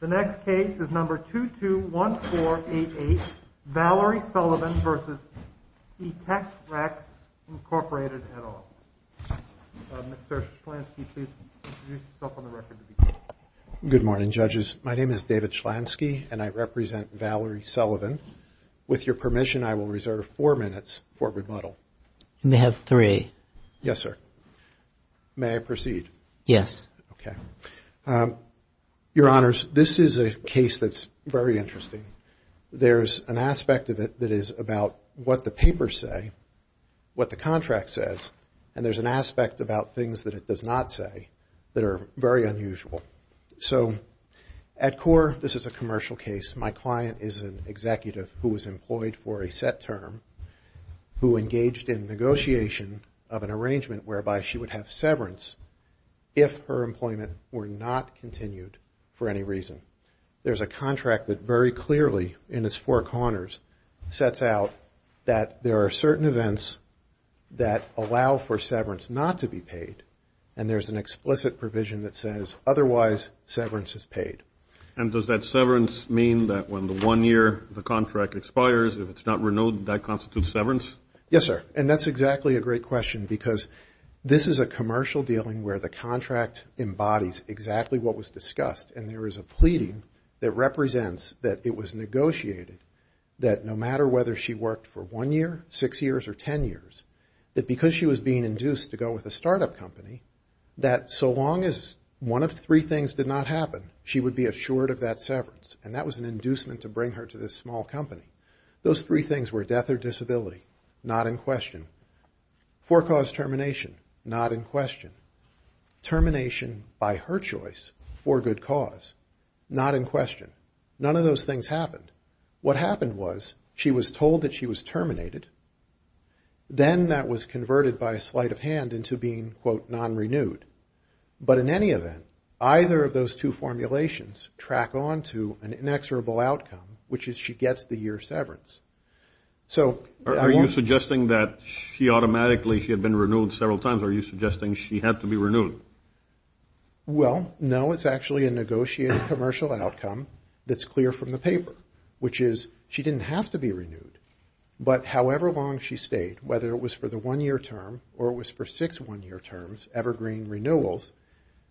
The next case is number 221488, Valerie Sullivan v. etectRx, Inc., et al. Mr. Chlansky, please introduce yourself on the record. Good morning, judges. My name is David Chlansky, and I represent Valerie Sullivan. With your permission, I will reserve four minutes for rebuttal. You may have three. Yes, sir. May I proceed? Yes. Okay. Your Honors, this is a case that's very interesting. There's an aspect of it that is about what the papers say, what the contract says, and there's an aspect about things that it does not say that are very unusual. So at core, this is a commercial case. My client is an executive who was employed for a set term, who engaged in negotiation of an arrangement whereby she would have severance if her employment were not continued for any reason. There's a contract that very clearly in its four corners sets out that there are certain events that allow for severance not to be paid, and there's an explicit provision that says otherwise severance is paid. And does that severance mean that when the one year the contract expires, if it's not renewed, that constitutes severance? Yes, sir. And that's exactly a great question because this is a commercial dealing where the contract embodies exactly what was discussed, and there is a pleading that represents that it was negotiated that no matter whether she worked for one year, six years, or ten years, that because she was being induced to go with a startup company, that so long as one of three things did not happen, she would be assured of that severance. And that was an inducement to bring her to this small company. Those three things were death or disability, not in question. Forecaused termination, not in question. Termination by her choice for good cause, not in question. None of those things happened. What happened was she was told that she was terminated. Then that was converted by a sleight of hand into being, quote, non-renewed. But in any event, either of those two formulations track on to an inexorable outcome, which is she gets the year severance. Are you suggesting that she automatically had been renewed several times? Are you suggesting she had to be renewed? Well, no. It's actually a negotiated commercial outcome that's clear from the paper, which is she didn't have to be renewed. But however long she stayed, whether it was for the one-year term or it was for six one-year terms, evergreen renewals,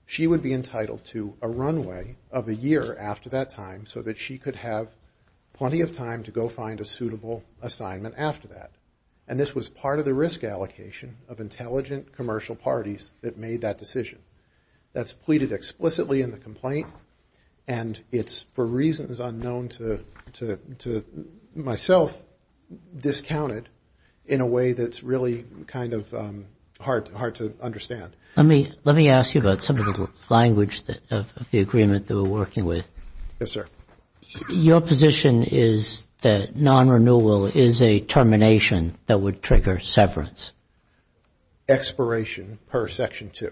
she would be entitled to a runway of a year after that time so that she could have plenty of time to go find a suitable assignment after that. And this was part of the risk allocation of intelligent commercial parties that made that decision. That's pleaded explicitly in the complaint, and it's for reasons unknown to myself discounted in a way that's really kind of hard to understand. Let me ask you about some of the language of the agreement that we're working with. Yes, sir. Your position is that non-renewal is a termination that would trigger severance? Expiration per Section 2.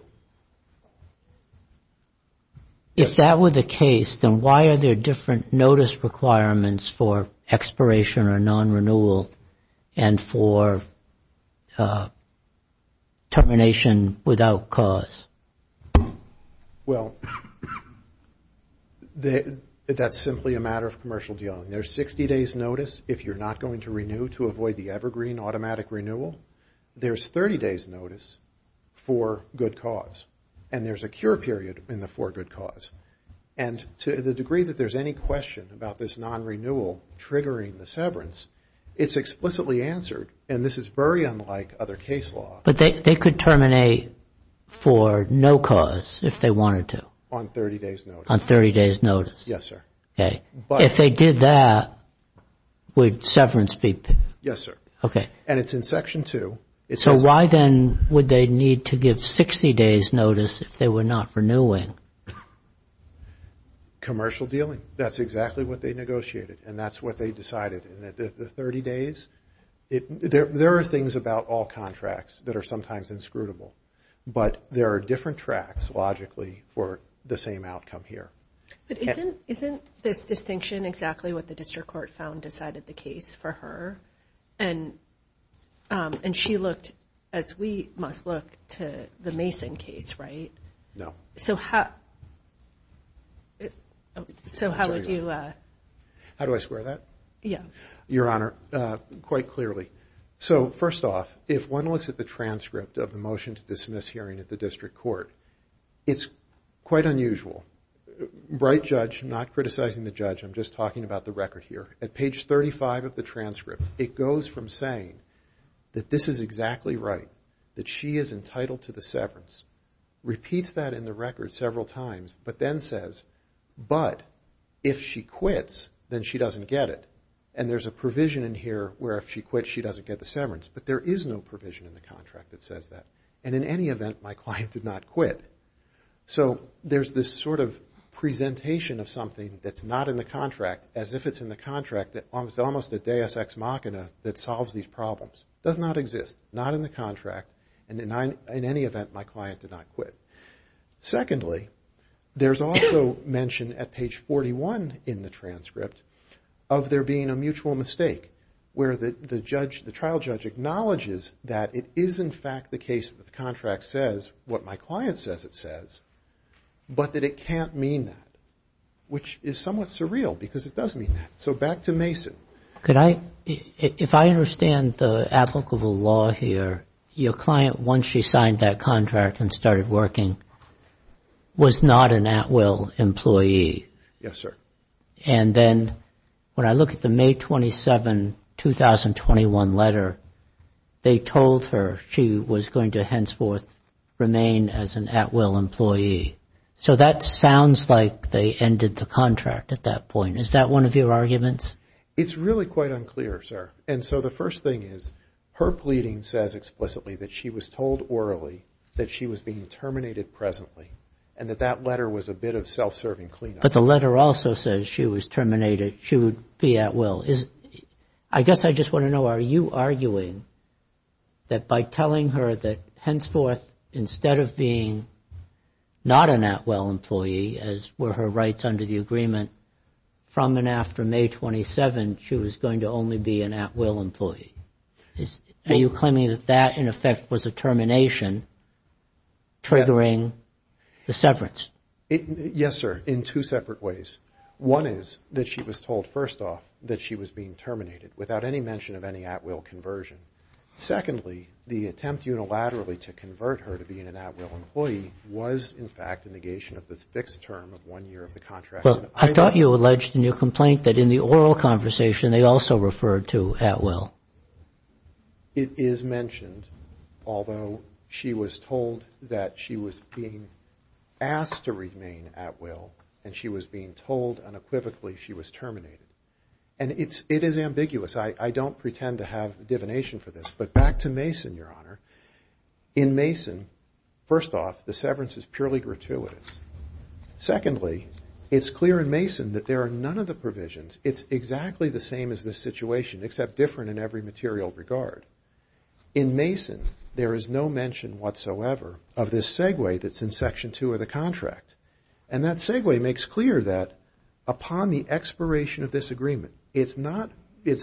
If that were the case, then why are there different notice requirements for expiration or non-renewal and for termination without cause? Well, that's simply a matter of commercial dealing. There's 60 days' notice if you're not going to renew to avoid the evergreen automatic renewal. There's 30 days' notice for good cause, and there's a cure period in the for good cause. And to the degree that there's any question about this non-renewal triggering the severance, it's explicitly answered, and this is very unlike other case law. But they could terminate for no cause if they wanted to? On 30 days' notice. On 30 days' notice. Yes, sir. Okay. If they did that, would severance be? Yes, sir. Okay. And it's in Section 2. So why then would they need to give 60 days' notice if they were not renewing? Commercial dealing. That's exactly what they negotiated, and that's what they decided. In the 30 days, there are things about all contracts that are sometimes inscrutable, but there are different tracks, logically, for the same outcome here. But isn't this distinction exactly what the district court found decided the case for her? And she looked, as we must look, to the Mason case, right? No. So how would you? How do I square that? Yes. Your Honor, quite clearly. So first off, if one looks at the transcript of the motion to dismiss hearing at the district court, it's quite unusual. Right judge, not criticizing the judge, I'm just talking about the record here. At page 35 of the transcript, it goes from saying that this is exactly right, that she is entitled to the severance, repeats that in the record several times, but then says, but if she quits, then she doesn't get it. And there's a provision in here where if she quits, she doesn't get the severance. But there is no provision in the contract that says that. And in any event, my client did not quit. So there's this sort of presentation of something that's not in the contract, as if it's in the contract that's almost a deus ex machina that solves these problems. Does not exist. Not in the contract. And in any event, my client did not quit. Secondly, there's also mention at page 41 in the transcript of there being a mutual mistake, where the trial judge acknowledges that it is, in fact, the case that the contract says, what my client says it says, but that it can't mean that, which is somewhat surreal because it does mean that. So back to Mason. If I understand the applicable law here, your client, once she signed that contract and started working, was not an at-will employee. Yes, sir. And then when I look at the May 27, 2021 letter, they told her she was going to henceforth remain as an at-will employee. So that sounds like they ended the contract at that point. Is that one of your arguments? It's really quite unclear, sir. And so the first thing is, her pleading says explicitly that she was told orally that she was being terminated presently and that that letter was a bit of self-serving clean-up. But the letter also says she was terminated. She would be at-will. I guess I just want to know, are you arguing that by telling her that henceforth, instead of being not an at-will employee, as were her rights under the agreement, from and after May 27, she was going to only be an at-will employee? Are you claiming that that, in effect, was a termination triggering the severance? Yes, sir, in two separate ways. One is that she was told, first off, that she was being terminated, without any mention of any at-will conversion. Secondly, the attempt unilaterally to convert her to being an at-will employee was, in fact, a negation of the fixed term of one year of the contract. Well, I thought you alleged in your complaint that in the oral conversation they also referred to at-will. It is mentioned, although she was told that she was being asked to remain at-will and she was being told unequivocally she was terminated. And it is ambiguous. I don't pretend to have divination for this. But back to Mason, Your Honor. In Mason, first off, the severance is purely gratuitous. Secondly, it's clear in Mason that there are none of the provisions. It's exactly the same as this situation, except different in every material regard. In Mason, there is no mention whatsoever of this segue that's in Section 2 of the contract. And that segue makes clear that upon the expiration of this agreement, it's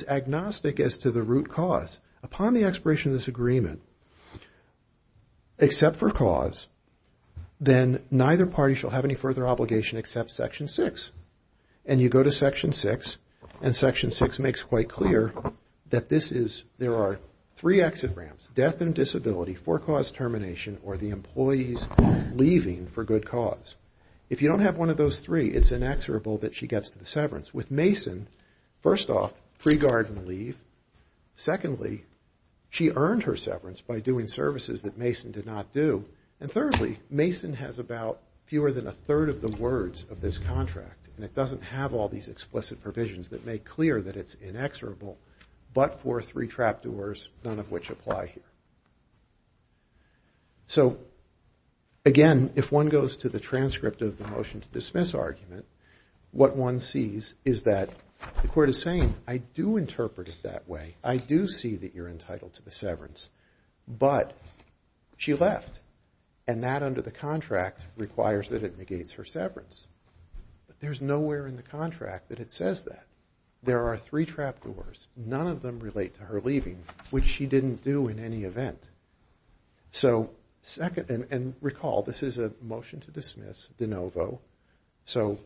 agnostic as to the root cause. Upon the expiration of this agreement, except for cause, then neither party shall have any further obligation except Section 6. And you go to Section 6, and Section 6 makes quite clear that this is, there are three exit ramps, death and disability, for-cause termination, or the employee's leaving for good cause. If you don't have one of those three, it's inexorable that she gets to the severance. With Mason, first off, pre-garden leave. Secondly, she earned her severance by doing services that Mason did not do. And thirdly, Mason has about fewer than a third of the words of this contract. And it doesn't have all these explicit provisions that make clear that it's inexorable, but for three trapdoors, none of which apply here. So, again, if one goes to the transcript of the motion to dismiss argument, what one sees is that the court is saying, I do interpret it that way. I do see that you're entitled to the severance, but she left. And that, under the contract, requires that it negates her severance. But there's nowhere in the contract that it says that. There are three trapdoors. None of them relate to her leaving, which she didn't do in any event. So, second, and recall, this is a motion to dismiss, de novo. So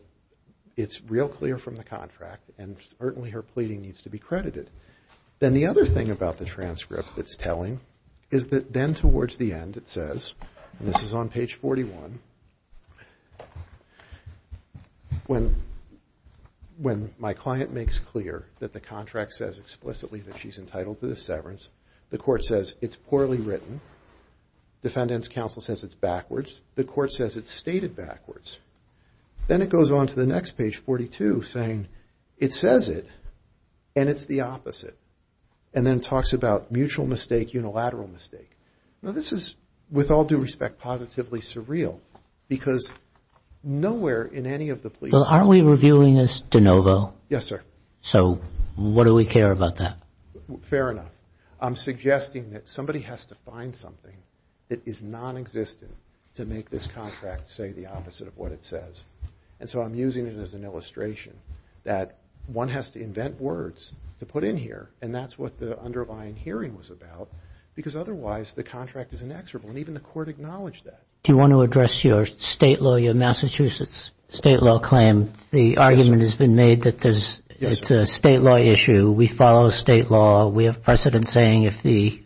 it's real clear from the contract, and certainly her pleading needs to be credited. Then the other thing about the transcript that's telling is that then towards the end it says, and this is on page 41, when my client makes clear that the contract says explicitly that she's entitled to the severance, the court says it's poorly written. Defendant's counsel says it's backwards. The court says it's stated backwards. Then it goes on to the next page, 42, saying it says it, and it's the opposite. And then it talks about mutual mistake, unilateral mistake. Now, this is, with all due respect, positively surreal, because nowhere in any of the pleadings- Well, aren't we reviewing this de novo? Yes, sir. So what do we care about that? Fair enough. I'm suggesting that somebody has to find something that is nonexistent to make this contract say the opposite of what it says. And so I'm using it as an illustration that one has to invent words to put in here, and that's what the underlying hearing was about, because otherwise the contract is inexorable, and even the court acknowledged that. Do you want to address your state law, your Massachusetts state law claim? The argument has been made that it's a state law issue. We follow state law. We have precedent saying if the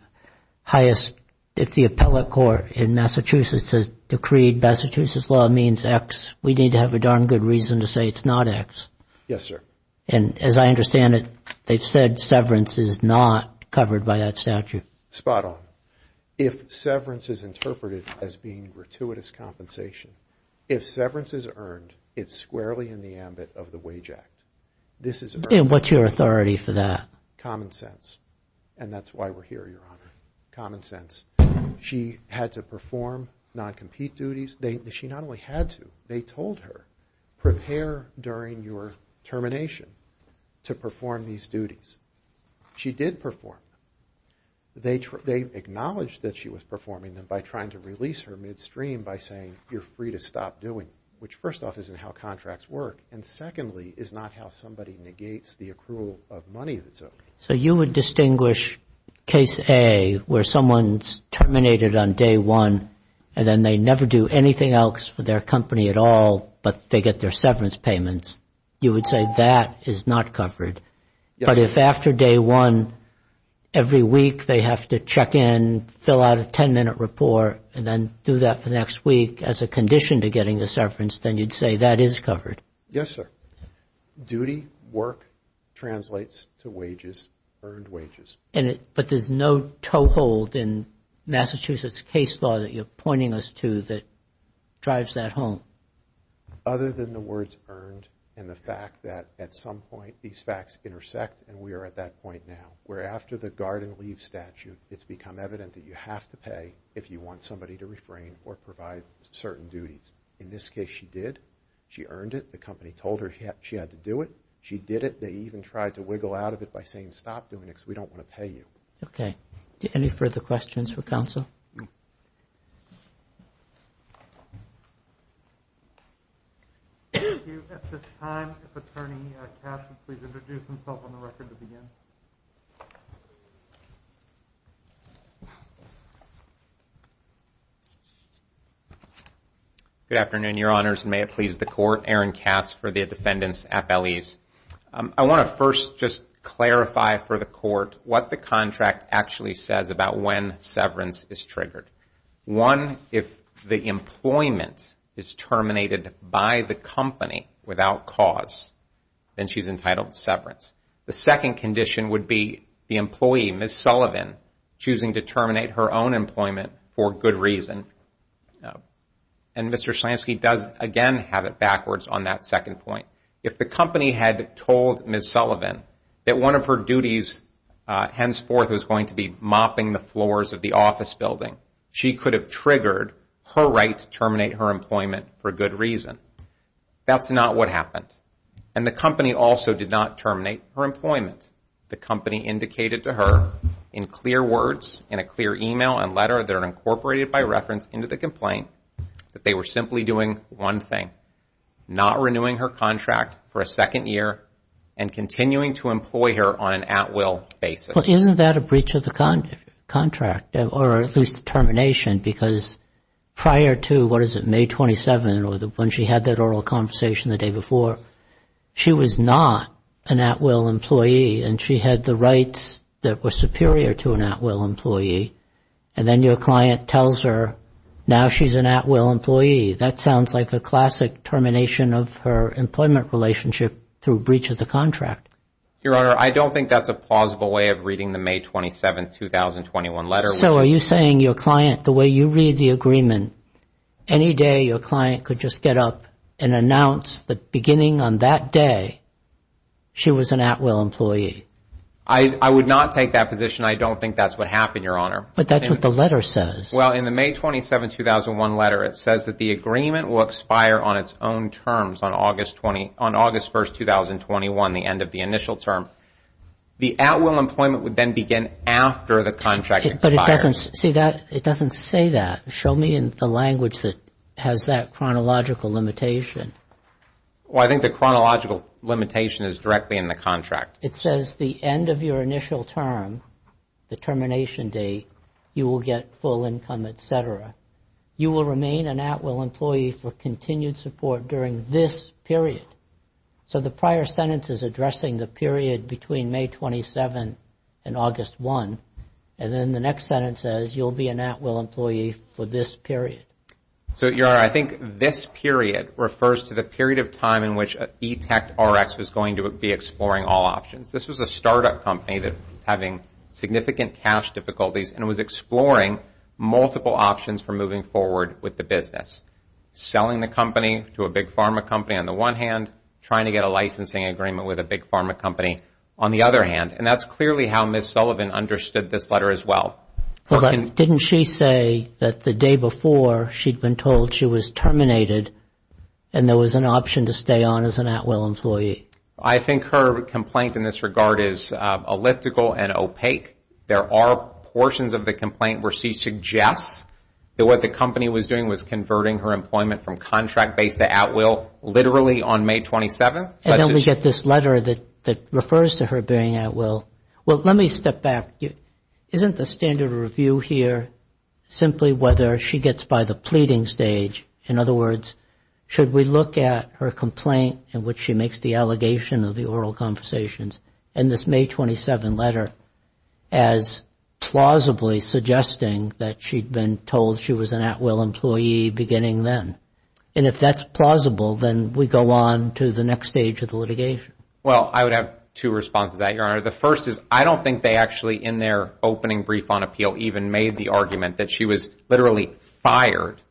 appellate court in Massachusetts has decreed Massachusetts law means X, we need to have a darn good reason to say it's not X. Yes, sir. And as I understand it, they've said severance is not covered by that statute. Spot on. If severance is interpreted as being gratuitous compensation, if severance is earned, it's squarely in the ambit of the Wage Act. And what's your authority for that? Common sense. And that's why we're here, Your Honor. Common sense. She had to perform non-compete duties. She not only had to, they told her, prepare during your termination to perform these duties. She did perform them. They acknowledged that she was performing them by trying to release her midstream by saying you're free to stop doing them, which first off isn't how contracts work, and secondly is not how somebody negates the accrual of money that's owed. So you would distinguish case A where someone's terminated on day one and then they never do anything else for their company at all, but they get their severance payments. You would say that is not covered. But if after day one, every week they have to check in, fill out a 10-minute report, and then do that for the next week as a condition to getting the severance, then you'd say that is covered. Yes, sir. Duty, work translates to wages, earned wages. But there's no toehold in Massachusetts case law that you're pointing us to that drives that home? Other than the words earned and the fact that at some point these facts intersect and we are at that point now where after the guard and leave statute, it's become evident that you have to pay if you want somebody to refrain or provide certain duties. In this case, she did. She earned it. The company told her she had to do it. She did it. They even tried to wiggle out of it by saying stop doing it because we don't want to pay you. Okay. Any further questions for counsel? Thank you. At this time, if Attorney Katz would please introduce himself on the record to begin. Good afternoon, Your Honors, and may it please the Court. Aaron Katz for the Defendant's FLEs. I want to first just clarify for the Court what the contract actually says about when severance is triggered. One, if the employment is terminated by the company without cause, then she's entitled to severance. The second condition would be the employee, Ms. Sullivan, choosing to terminate her own employment for good reason. And Mr. Slansky does, again, have it backwards on that second point. If the company had told Ms. Sullivan that one of her duties henceforth was going to be mopping the floors of the office building, she could have triggered her right to terminate her employment for good reason. That's not what happened. And the company also did not terminate her employment. The company indicated to her in clear words, in a clear email and letter that are incorporated by reference into the complaint, that they were simply doing one thing, not renewing her contract for a second year and continuing to employ her on an at-will basis. Isn't that a breach of the contract or at least termination? Because prior to, what is it, May 27 or when she had that oral conversation the day before, she was not an at-will employee and she had the rights that were superior to an at-will employee. And then your client tells her now she's an at-will employee. That sounds like a classic termination of her employment relationship through breach of the contract. Your Honor, I don't think that's a plausible way of reading the May 27, 2021 letter. So are you saying your client, the way you read the agreement, any day your client could just get up and announce that beginning on that day she was an at-will employee? I would not take that position. I don't think that's what happened, Your Honor. But that's what the letter says. Well, in the May 27, 2001 letter, it says that the agreement will expire on its own terms on August 1, 2021, the end of the initial term. The at-will employment would then begin after the contract expires. But it doesn't say that. Show me the language that has that chronological limitation. It says the end of your initial term, the termination date, you will get full income, et cetera. You will remain an at-will employee for continued support during this period. So the prior sentence is addressing the period between May 27 and August 1. And then the next sentence says you'll be an at-will employee for this period. So, Your Honor, I think this period refers to the period of time in which E-Tech RX was going to be exploring all options. This was a startup company that was having significant cash difficulties and was exploring multiple options for moving forward with the business. Selling the company to a big pharma company on the one hand, trying to get a licensing agreement with a big pharma company on the other hand. And that's clearly how Ms. Sullivan understood this letter as well. Didn't she say that the day before she'd been told she was terminated and there was an option to stay on as an at-will employee? I think her complaint in this regard is elliptical and opaque. There are portions of the complaint where she suggests that what the company was doing was converting her employment from contract-based to at-will literally on May 27. And then we get this letter that refers to her being at-will. Well, let me step back. Isn't the standard review here simply whether she gets by the pleading stage? In other words, should we look at her complaint in which she makes the allegation of the oral conversations in this May 27 letter as plausibly suggesting that she'd been told she was an at-will employee beginning then? And if that's plausible, then we go on to the next stage of the litigation. Well, I would have two responses to that, Your Honor. The first is I don't think they actually in their opening brief on appeal even made the argument that she was literally fired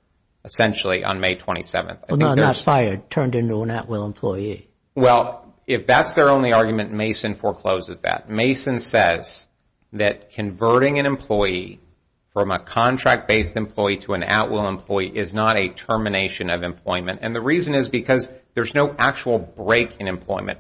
essentially on May 27. Well, not fired. Turned into an at-will employee. Well, if that's their only argument, Mason forecloses that. Mason says that converting an employee from a contract-based employee to an at-will employee is not a termination of employment. And the reason is because there's no actual break in employment.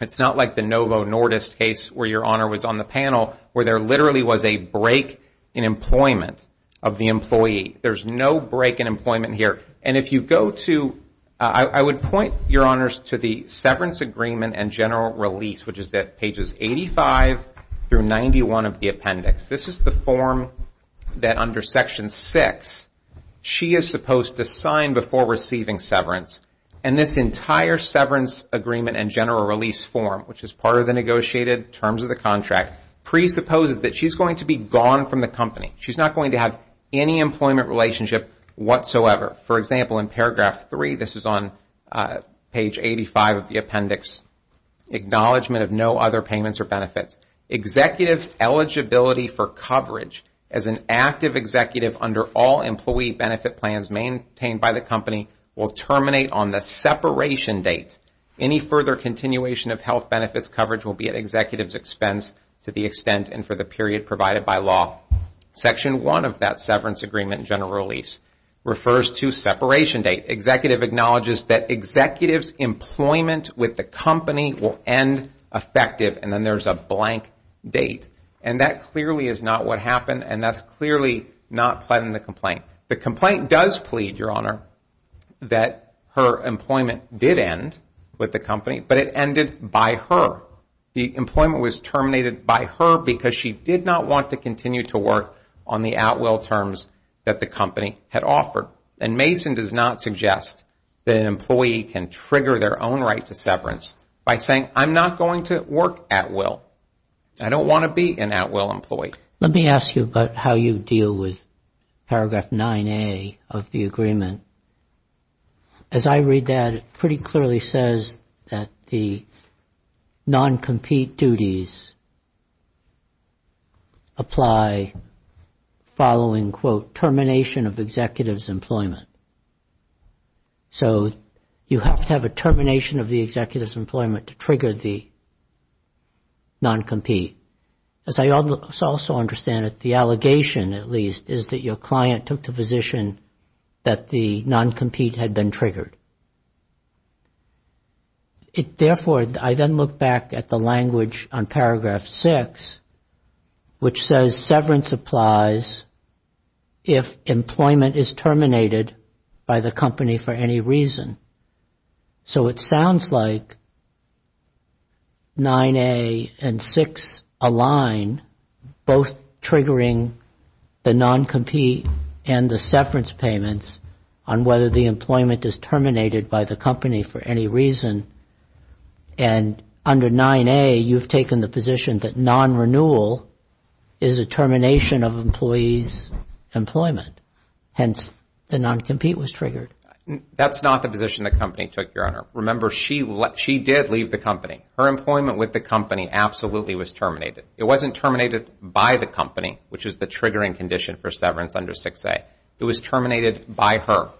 It's not like the Novo Nordisk case where Your Honor was on the panel where there literally was a break in employment of the employee. There's no break in employment here. And if you go to – I would point, Your Honors, to the severance agreement and general release, which is at pages 85 through 91 of the appendix. This is the form that under Section 6 she is supposed to sign before receiving severance. And this entire severance agreement and general release form, which is part of the negotiated terms of the contract, presupposes that she's going to be gone from the company. She's not going to have any employment relationship whatsoever. For example, in paragraph 3, this is on page 85 of the appendix, acknowledgement of no other payments or benefits. Executive's eligibility for coverage as an active executive under all employee benefit plans maintained by the company will terminate on the separation date. Any further continuation of health benefits coverage will be at executive's expense to the extent and for the period provided by law. Section 1 of that severance agreement and general release refers to separation date. Executive acknowledges that executive's employment with the company will end effective, and then there's a blank date. And that clearly is not what happened, and that's clearly not pledging the complaint. The complaint does plead, Your Honor, that her employment did end with the company, but it ended by her. The employment was terminated by her because she did not want to continue to work on the at-will terms that the company had offered. And Mason does not suggest that an employee can trigger their own right to severance by saying, I'm not going to work at will. I don't want to be an at-will employee. Let me ask you about how you deal with paragraph 9A of the agreement. As I read that, it pretty clearly says that the non-compete duties apply following, quote, termination of executive's employment. So you have to have a termination of the executive's employment to trigger the non-compete. As I also understand it, the allegation, at least, is that your client took the position that the non-compete had been triggered. Therefore, I then look back at the language on paragraph 6, which says severance applies if employment is terminated by the company for any reason. So it sounds like 9A and 6 align, both triggering the non-compete and the severance payments on whether the employment is terminated by the company for any reason. And under 9A, you've taken the position that non-renewal is a termination of employee's employment. Hence, the non-compete was triggered. That's not the position the company took, Your Honor. Remember, she did leave the company. Her employment with the company absolutely was terminated. It wasn't terminated by the company, which is the triggering condition for severance under 6A. It was terminated by her,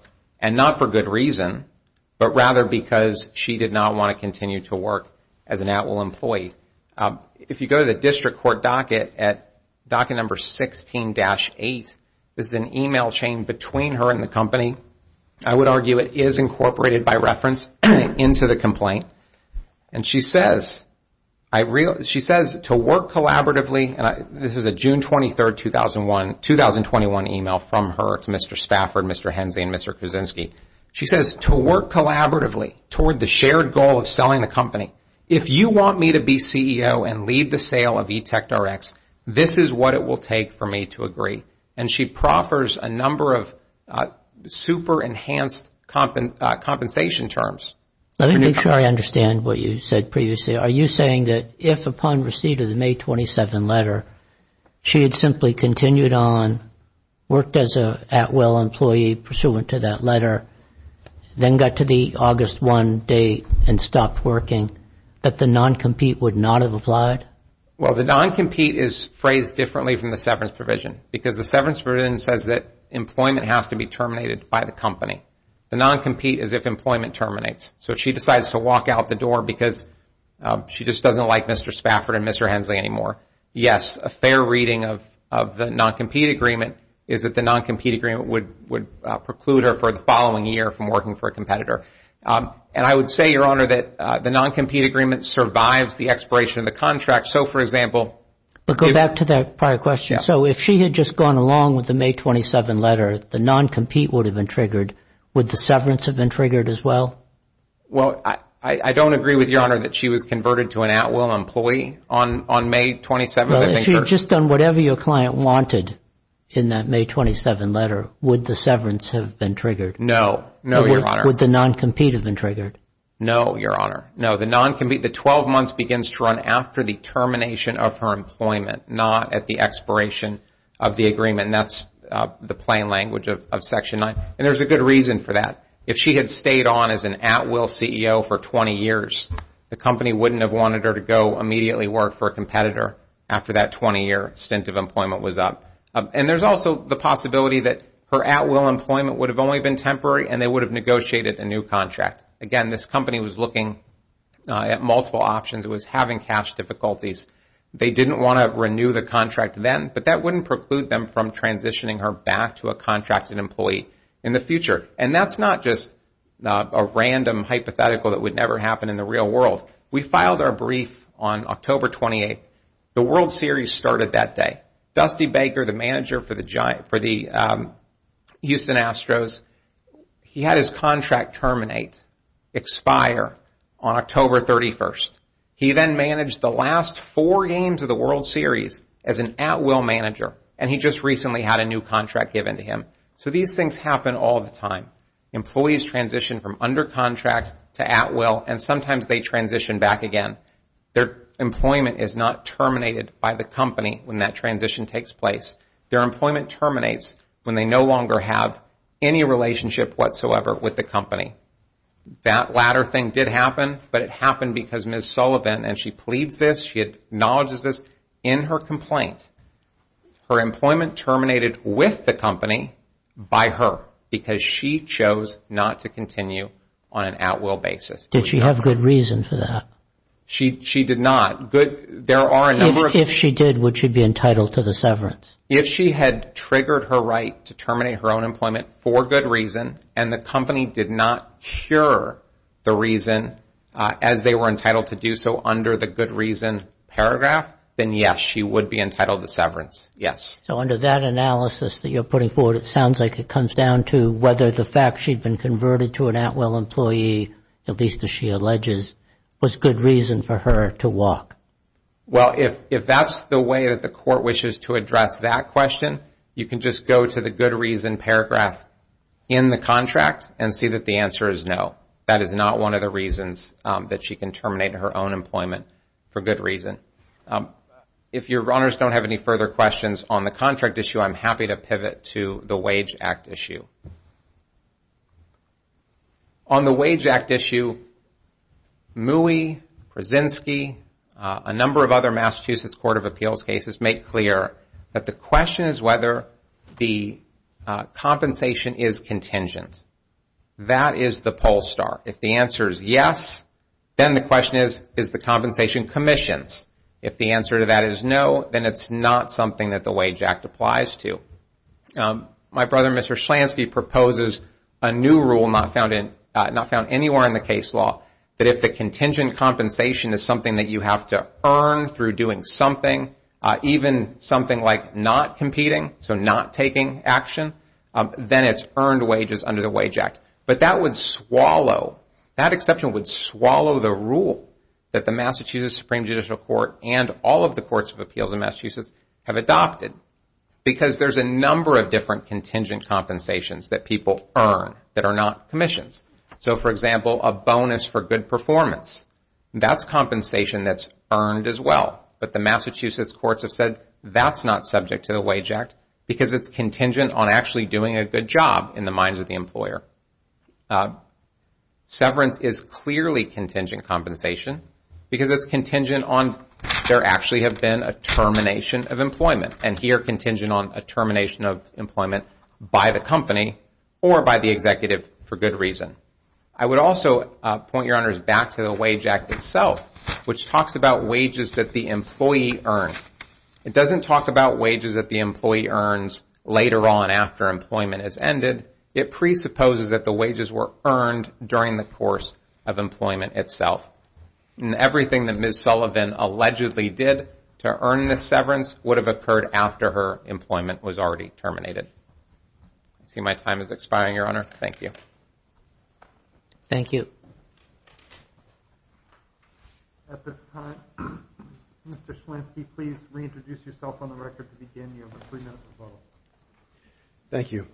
and not for good reason, but rather because she did not want to continue to work as an at-will employee. If you go to the district court docket at docket number 16-8, this is an email chain between her and the company. I would argue it is incorporated by reference into the complaint. And she says to work collaboratively. This is a June 23, 2021 email from her to Mr. Stafford, Mr. Hensley, and Mr. Kuczynski. She says to work collaboratively toward the shared goal of selling the company. If you want me to be CEO and lead the sale of eTech Directs, this is what it will take for me to agree. And she proffers a number of super enhanced compensation terms. Let me make sure I understand what you said previously. Are you saying that if upon receipt of the May 27 letter, she had simply continued on, worked as an at-will employee pursuant to that letter, then got to the August 1 date and stopped working, that the non-compete would not have applied? Well, the non-compete is phrased differently from the severance provision. Because the severance provision says that employment has to be terminated by the company. The non-compete is if employment terminates. So if she decides to walk out the door because she just doesn't like Mr. Stafford and Mr. Hensley anymore, yes, a fair reading of the non-compete agreement is that the non-compete agreement would preclude her for the following year from working for a competitor. And I would say, Your Honor, that the non-compete agreement survives the expiration of the contract. So, for example... But go back to that prior question. So if she had just gone along with the May 27 letter, the non-compete would have been triggered. Would the severance have been triggered as well? Well, I don't agree with Your Honor that she was converted to an at-will employee on May 27. Well, if she had just done whatever your client wanted in that May 27 letter, would the severance have been triggered? No. No, Your Honor. Would the non-compete have been triggered? No, Your Honor. No. The non-compete, the 12 months begins to run after the termination of her employment, not at the expiration of the agreement. And that's the plain language of Section 9. And there's a good reason for that. If she had stayed on as an at-will CEO for 20 years, the company wouldn't have wanted her to go immediately work for a competitor after that 20-year stint of employment was up. And there's also the possibility that her at-will employment would have only been temporary and they would have negotiated a new contract. Again, this company was looking at multiple options. It was having cash difficulties. They didn't want to renew the contract then, but that wouldn't preclude them from transitioning her back to a contracted employee in the future. And that's not just a random hypothetical that would never happen in the real world. We filed our brief on October 28. The World Series started that day. Dusty Baker, the manager for the Houston Astros, he had his contract terminate, expire on October 31. He then managed the last four games of the World Series as an at-will manager, and he just recently had a new contract given to him. So these things happen all the time. Employees transition from under contract to at-will, and sometimes they transition back again. Their employment is not terminated by the company when that transition takes place. Their employment terminates when they no longer have any relationship whatsoever with the company. That latter thing did happen, but it happened because Ms. Sullivan, and she pleads this, she acknowledges this in her complaint, her employment terminated with the company by her because she chose not to continue on an at-will basis. Did she have good reason for that? She did not. If she did, would she be entitled to the severance? If she had triggered her right to terminate her own employment for good reason, and the company did not cure the reason as they were entitled to do so under the good reason paragraph, then yes, she would be entitled to severance, yes. So under that analysis that you're putting forward, it sounds like it comes down to whether the fact she'd been converted to an at-will employee, at least as she alleges, was good reason for her to walk. Well, if that's the way that the court wishes to address that question, you can just go to the good reason paragraph in the contract and see that the answer is no. That is not one of the reasons that she can terminate her own employment for good reason. If your honors don't have any further questions on the contract issue, I'm happy to pivot to the Wage Act issue. On the Wage Act issue, Mooey, Krasinski, a number of other Massachusetts Court of Appeals cases make clear that the question is whether the compensation is contingent. That is the poll star. If the answer is yes, then the question is, is the compensation commissions? If the answer to that is no, then it's not something that the Wage Act applies to. My brother, Mr. Schlansky, proposes a new rule not found anywhere in the case law, that if the contingent compensation is something that you have to earn through doing something, even something like not competing, so not taking action, then it's earned wages under the Wage Act. But that would swallow, that exception would swallow the rule that the Massachusetts Supreme Judicial Court and all of the Courts of Appeals in Massachusetts have adopted because there's a number of different contingent compensations that people earn that are not commissions. For example, a bonus for good performance, that's compensation that's earned as well. But the Massachusetts courts have said that's not subject to the Wage Act because it's contingent on actually doing a good job in the mind of the employer. Severance is clearly contingent compensation because it's contingent on there actually have been a termination of employment and here contingent on a termination of employment by the company or by the executive for good reason. I would also point your honors back to the Wage Act itself, which talks about wages that the employee earns. It doesn't talk about wages that the employee earns later on after employment has ended. It presupposes that the wages were earned during the course of employment itself. And everything that Ms. Sullivan allegedly did to earn this severance would have occurred after her employment was already terminated. I see my time is expiring, Your Honor. Thank you. Thank you. At this time, Mr. Schlansky, please reintroduce yourself on the record to begin your three-minute rebuttal. Thank you.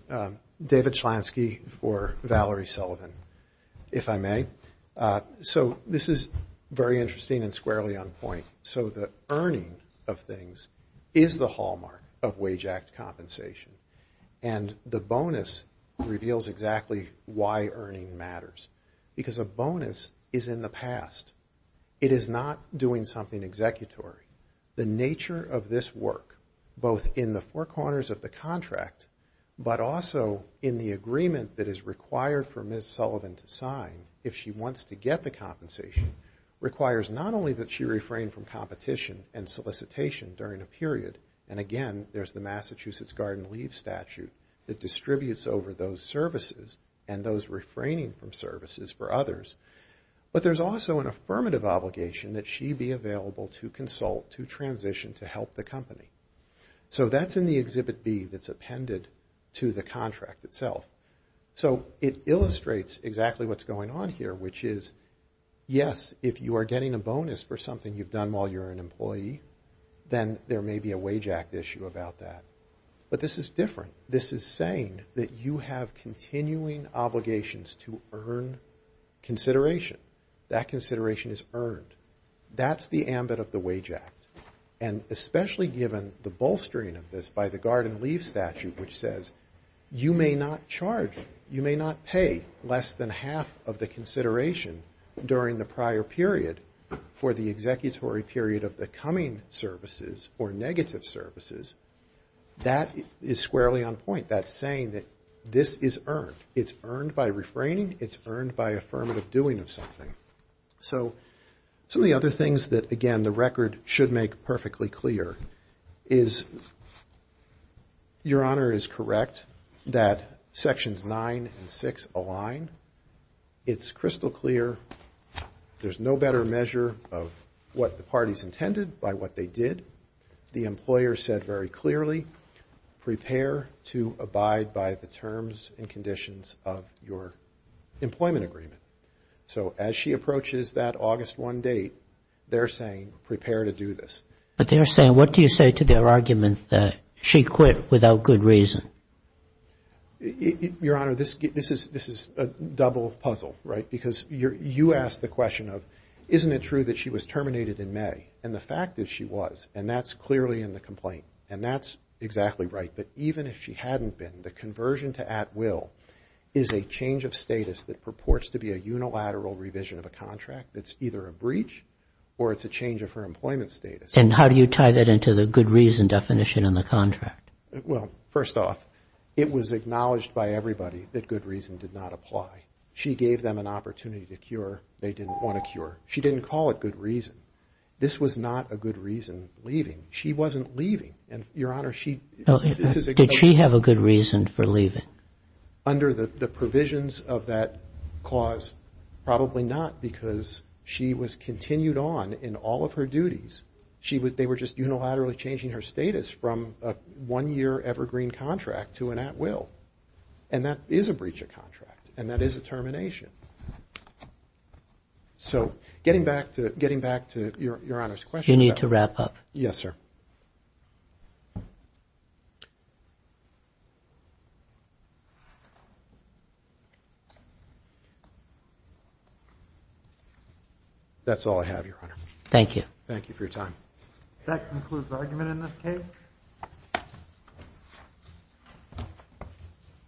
David Schlansky for Valerie Sullivan, if I may. So this is very interesting and squarely on point. So the earning of things is the hallmark of Wage Act compensation. And the bonus reveals exactly why earning matters. Because a bonus is in the past. It is not doing something executory. The nature of this work, both in the four corners of the contract, but also in the agreement that is required for Ms. Sullivan to sign if she wants to get the compensation, requires not only that she refrain from competition and solicitation during a period, and again, there's the Massachusetts Garden Leave Statute that distributes over those services and those refraining from services for others, but there's also an affirmative obligation that she be available to consult, to transition, to help the company. So that's in the Exhibit B that's appended to the contract itself. So it illustrates exactly what's going on here, which is, yes, if you are getting a bonus for something you've done while you're an employee, then there may be a Wage Act issue about that. But this is different. This is saying that you have continuing obligations to earn consideration. That consideration is earned. That's the ambit of the Wage Act. And especially given the bolstering of this by the Garden Leave Statute, which says you may not charge, you may not pay less than half of the consideration during the prior period for the executory period of the coming services or negative services, that is squarely on point. That's saying that this is earned. It's earned by refraining. It's earned by affirmative doing of something. So some of the other things that, again, the record should make perfectly clear is, Your Honor is correct that Sections 9 and 6 align. It's crystal clear. There's no better measure of what the parties intended by what they did. The employer said very clearly, prepare to abide by the terms and conditions of your employment agreement. So as she approaches that August 1 date, they're saying, prepare to do this. But they're saying, what do you say to their argument that she quit without good reason? Your Honor, this is a double puzzle, right? Because you asked the question of, isn't it true that she was terminated in May? And the fact is she was, and that's clearly in the complaint, and that's exactly right. But even if she hadn't been, the conversion to at will is a change of status that purports to be a unilateral revision of a contract that's either a breach or it's a change of her employment status. And how do you tie that into the good reason definition in the contract? Well, first off, it was acknowledged by everybody that good reason did not apply. She gave them an opportunity to cure. They didn't want a cure. She didn't call it good reason. This was not a good reason leaving. She wasn't leaving. And, Your Honor, this is a good thing. Did she have a good reason for leaving? Under the provisions of that clause, probably not, because she was continued on in all of her duties. They were just unilaterally changing her status from a one-year evergreen contract to an at will. And that is a breach of contract, and that is a termination. So getting back to Your Honor's question. You need to wrap up. Yes, sir. That's all I have, Your Honor. Thank you. Thank you for your time. That concludes the argument in this case.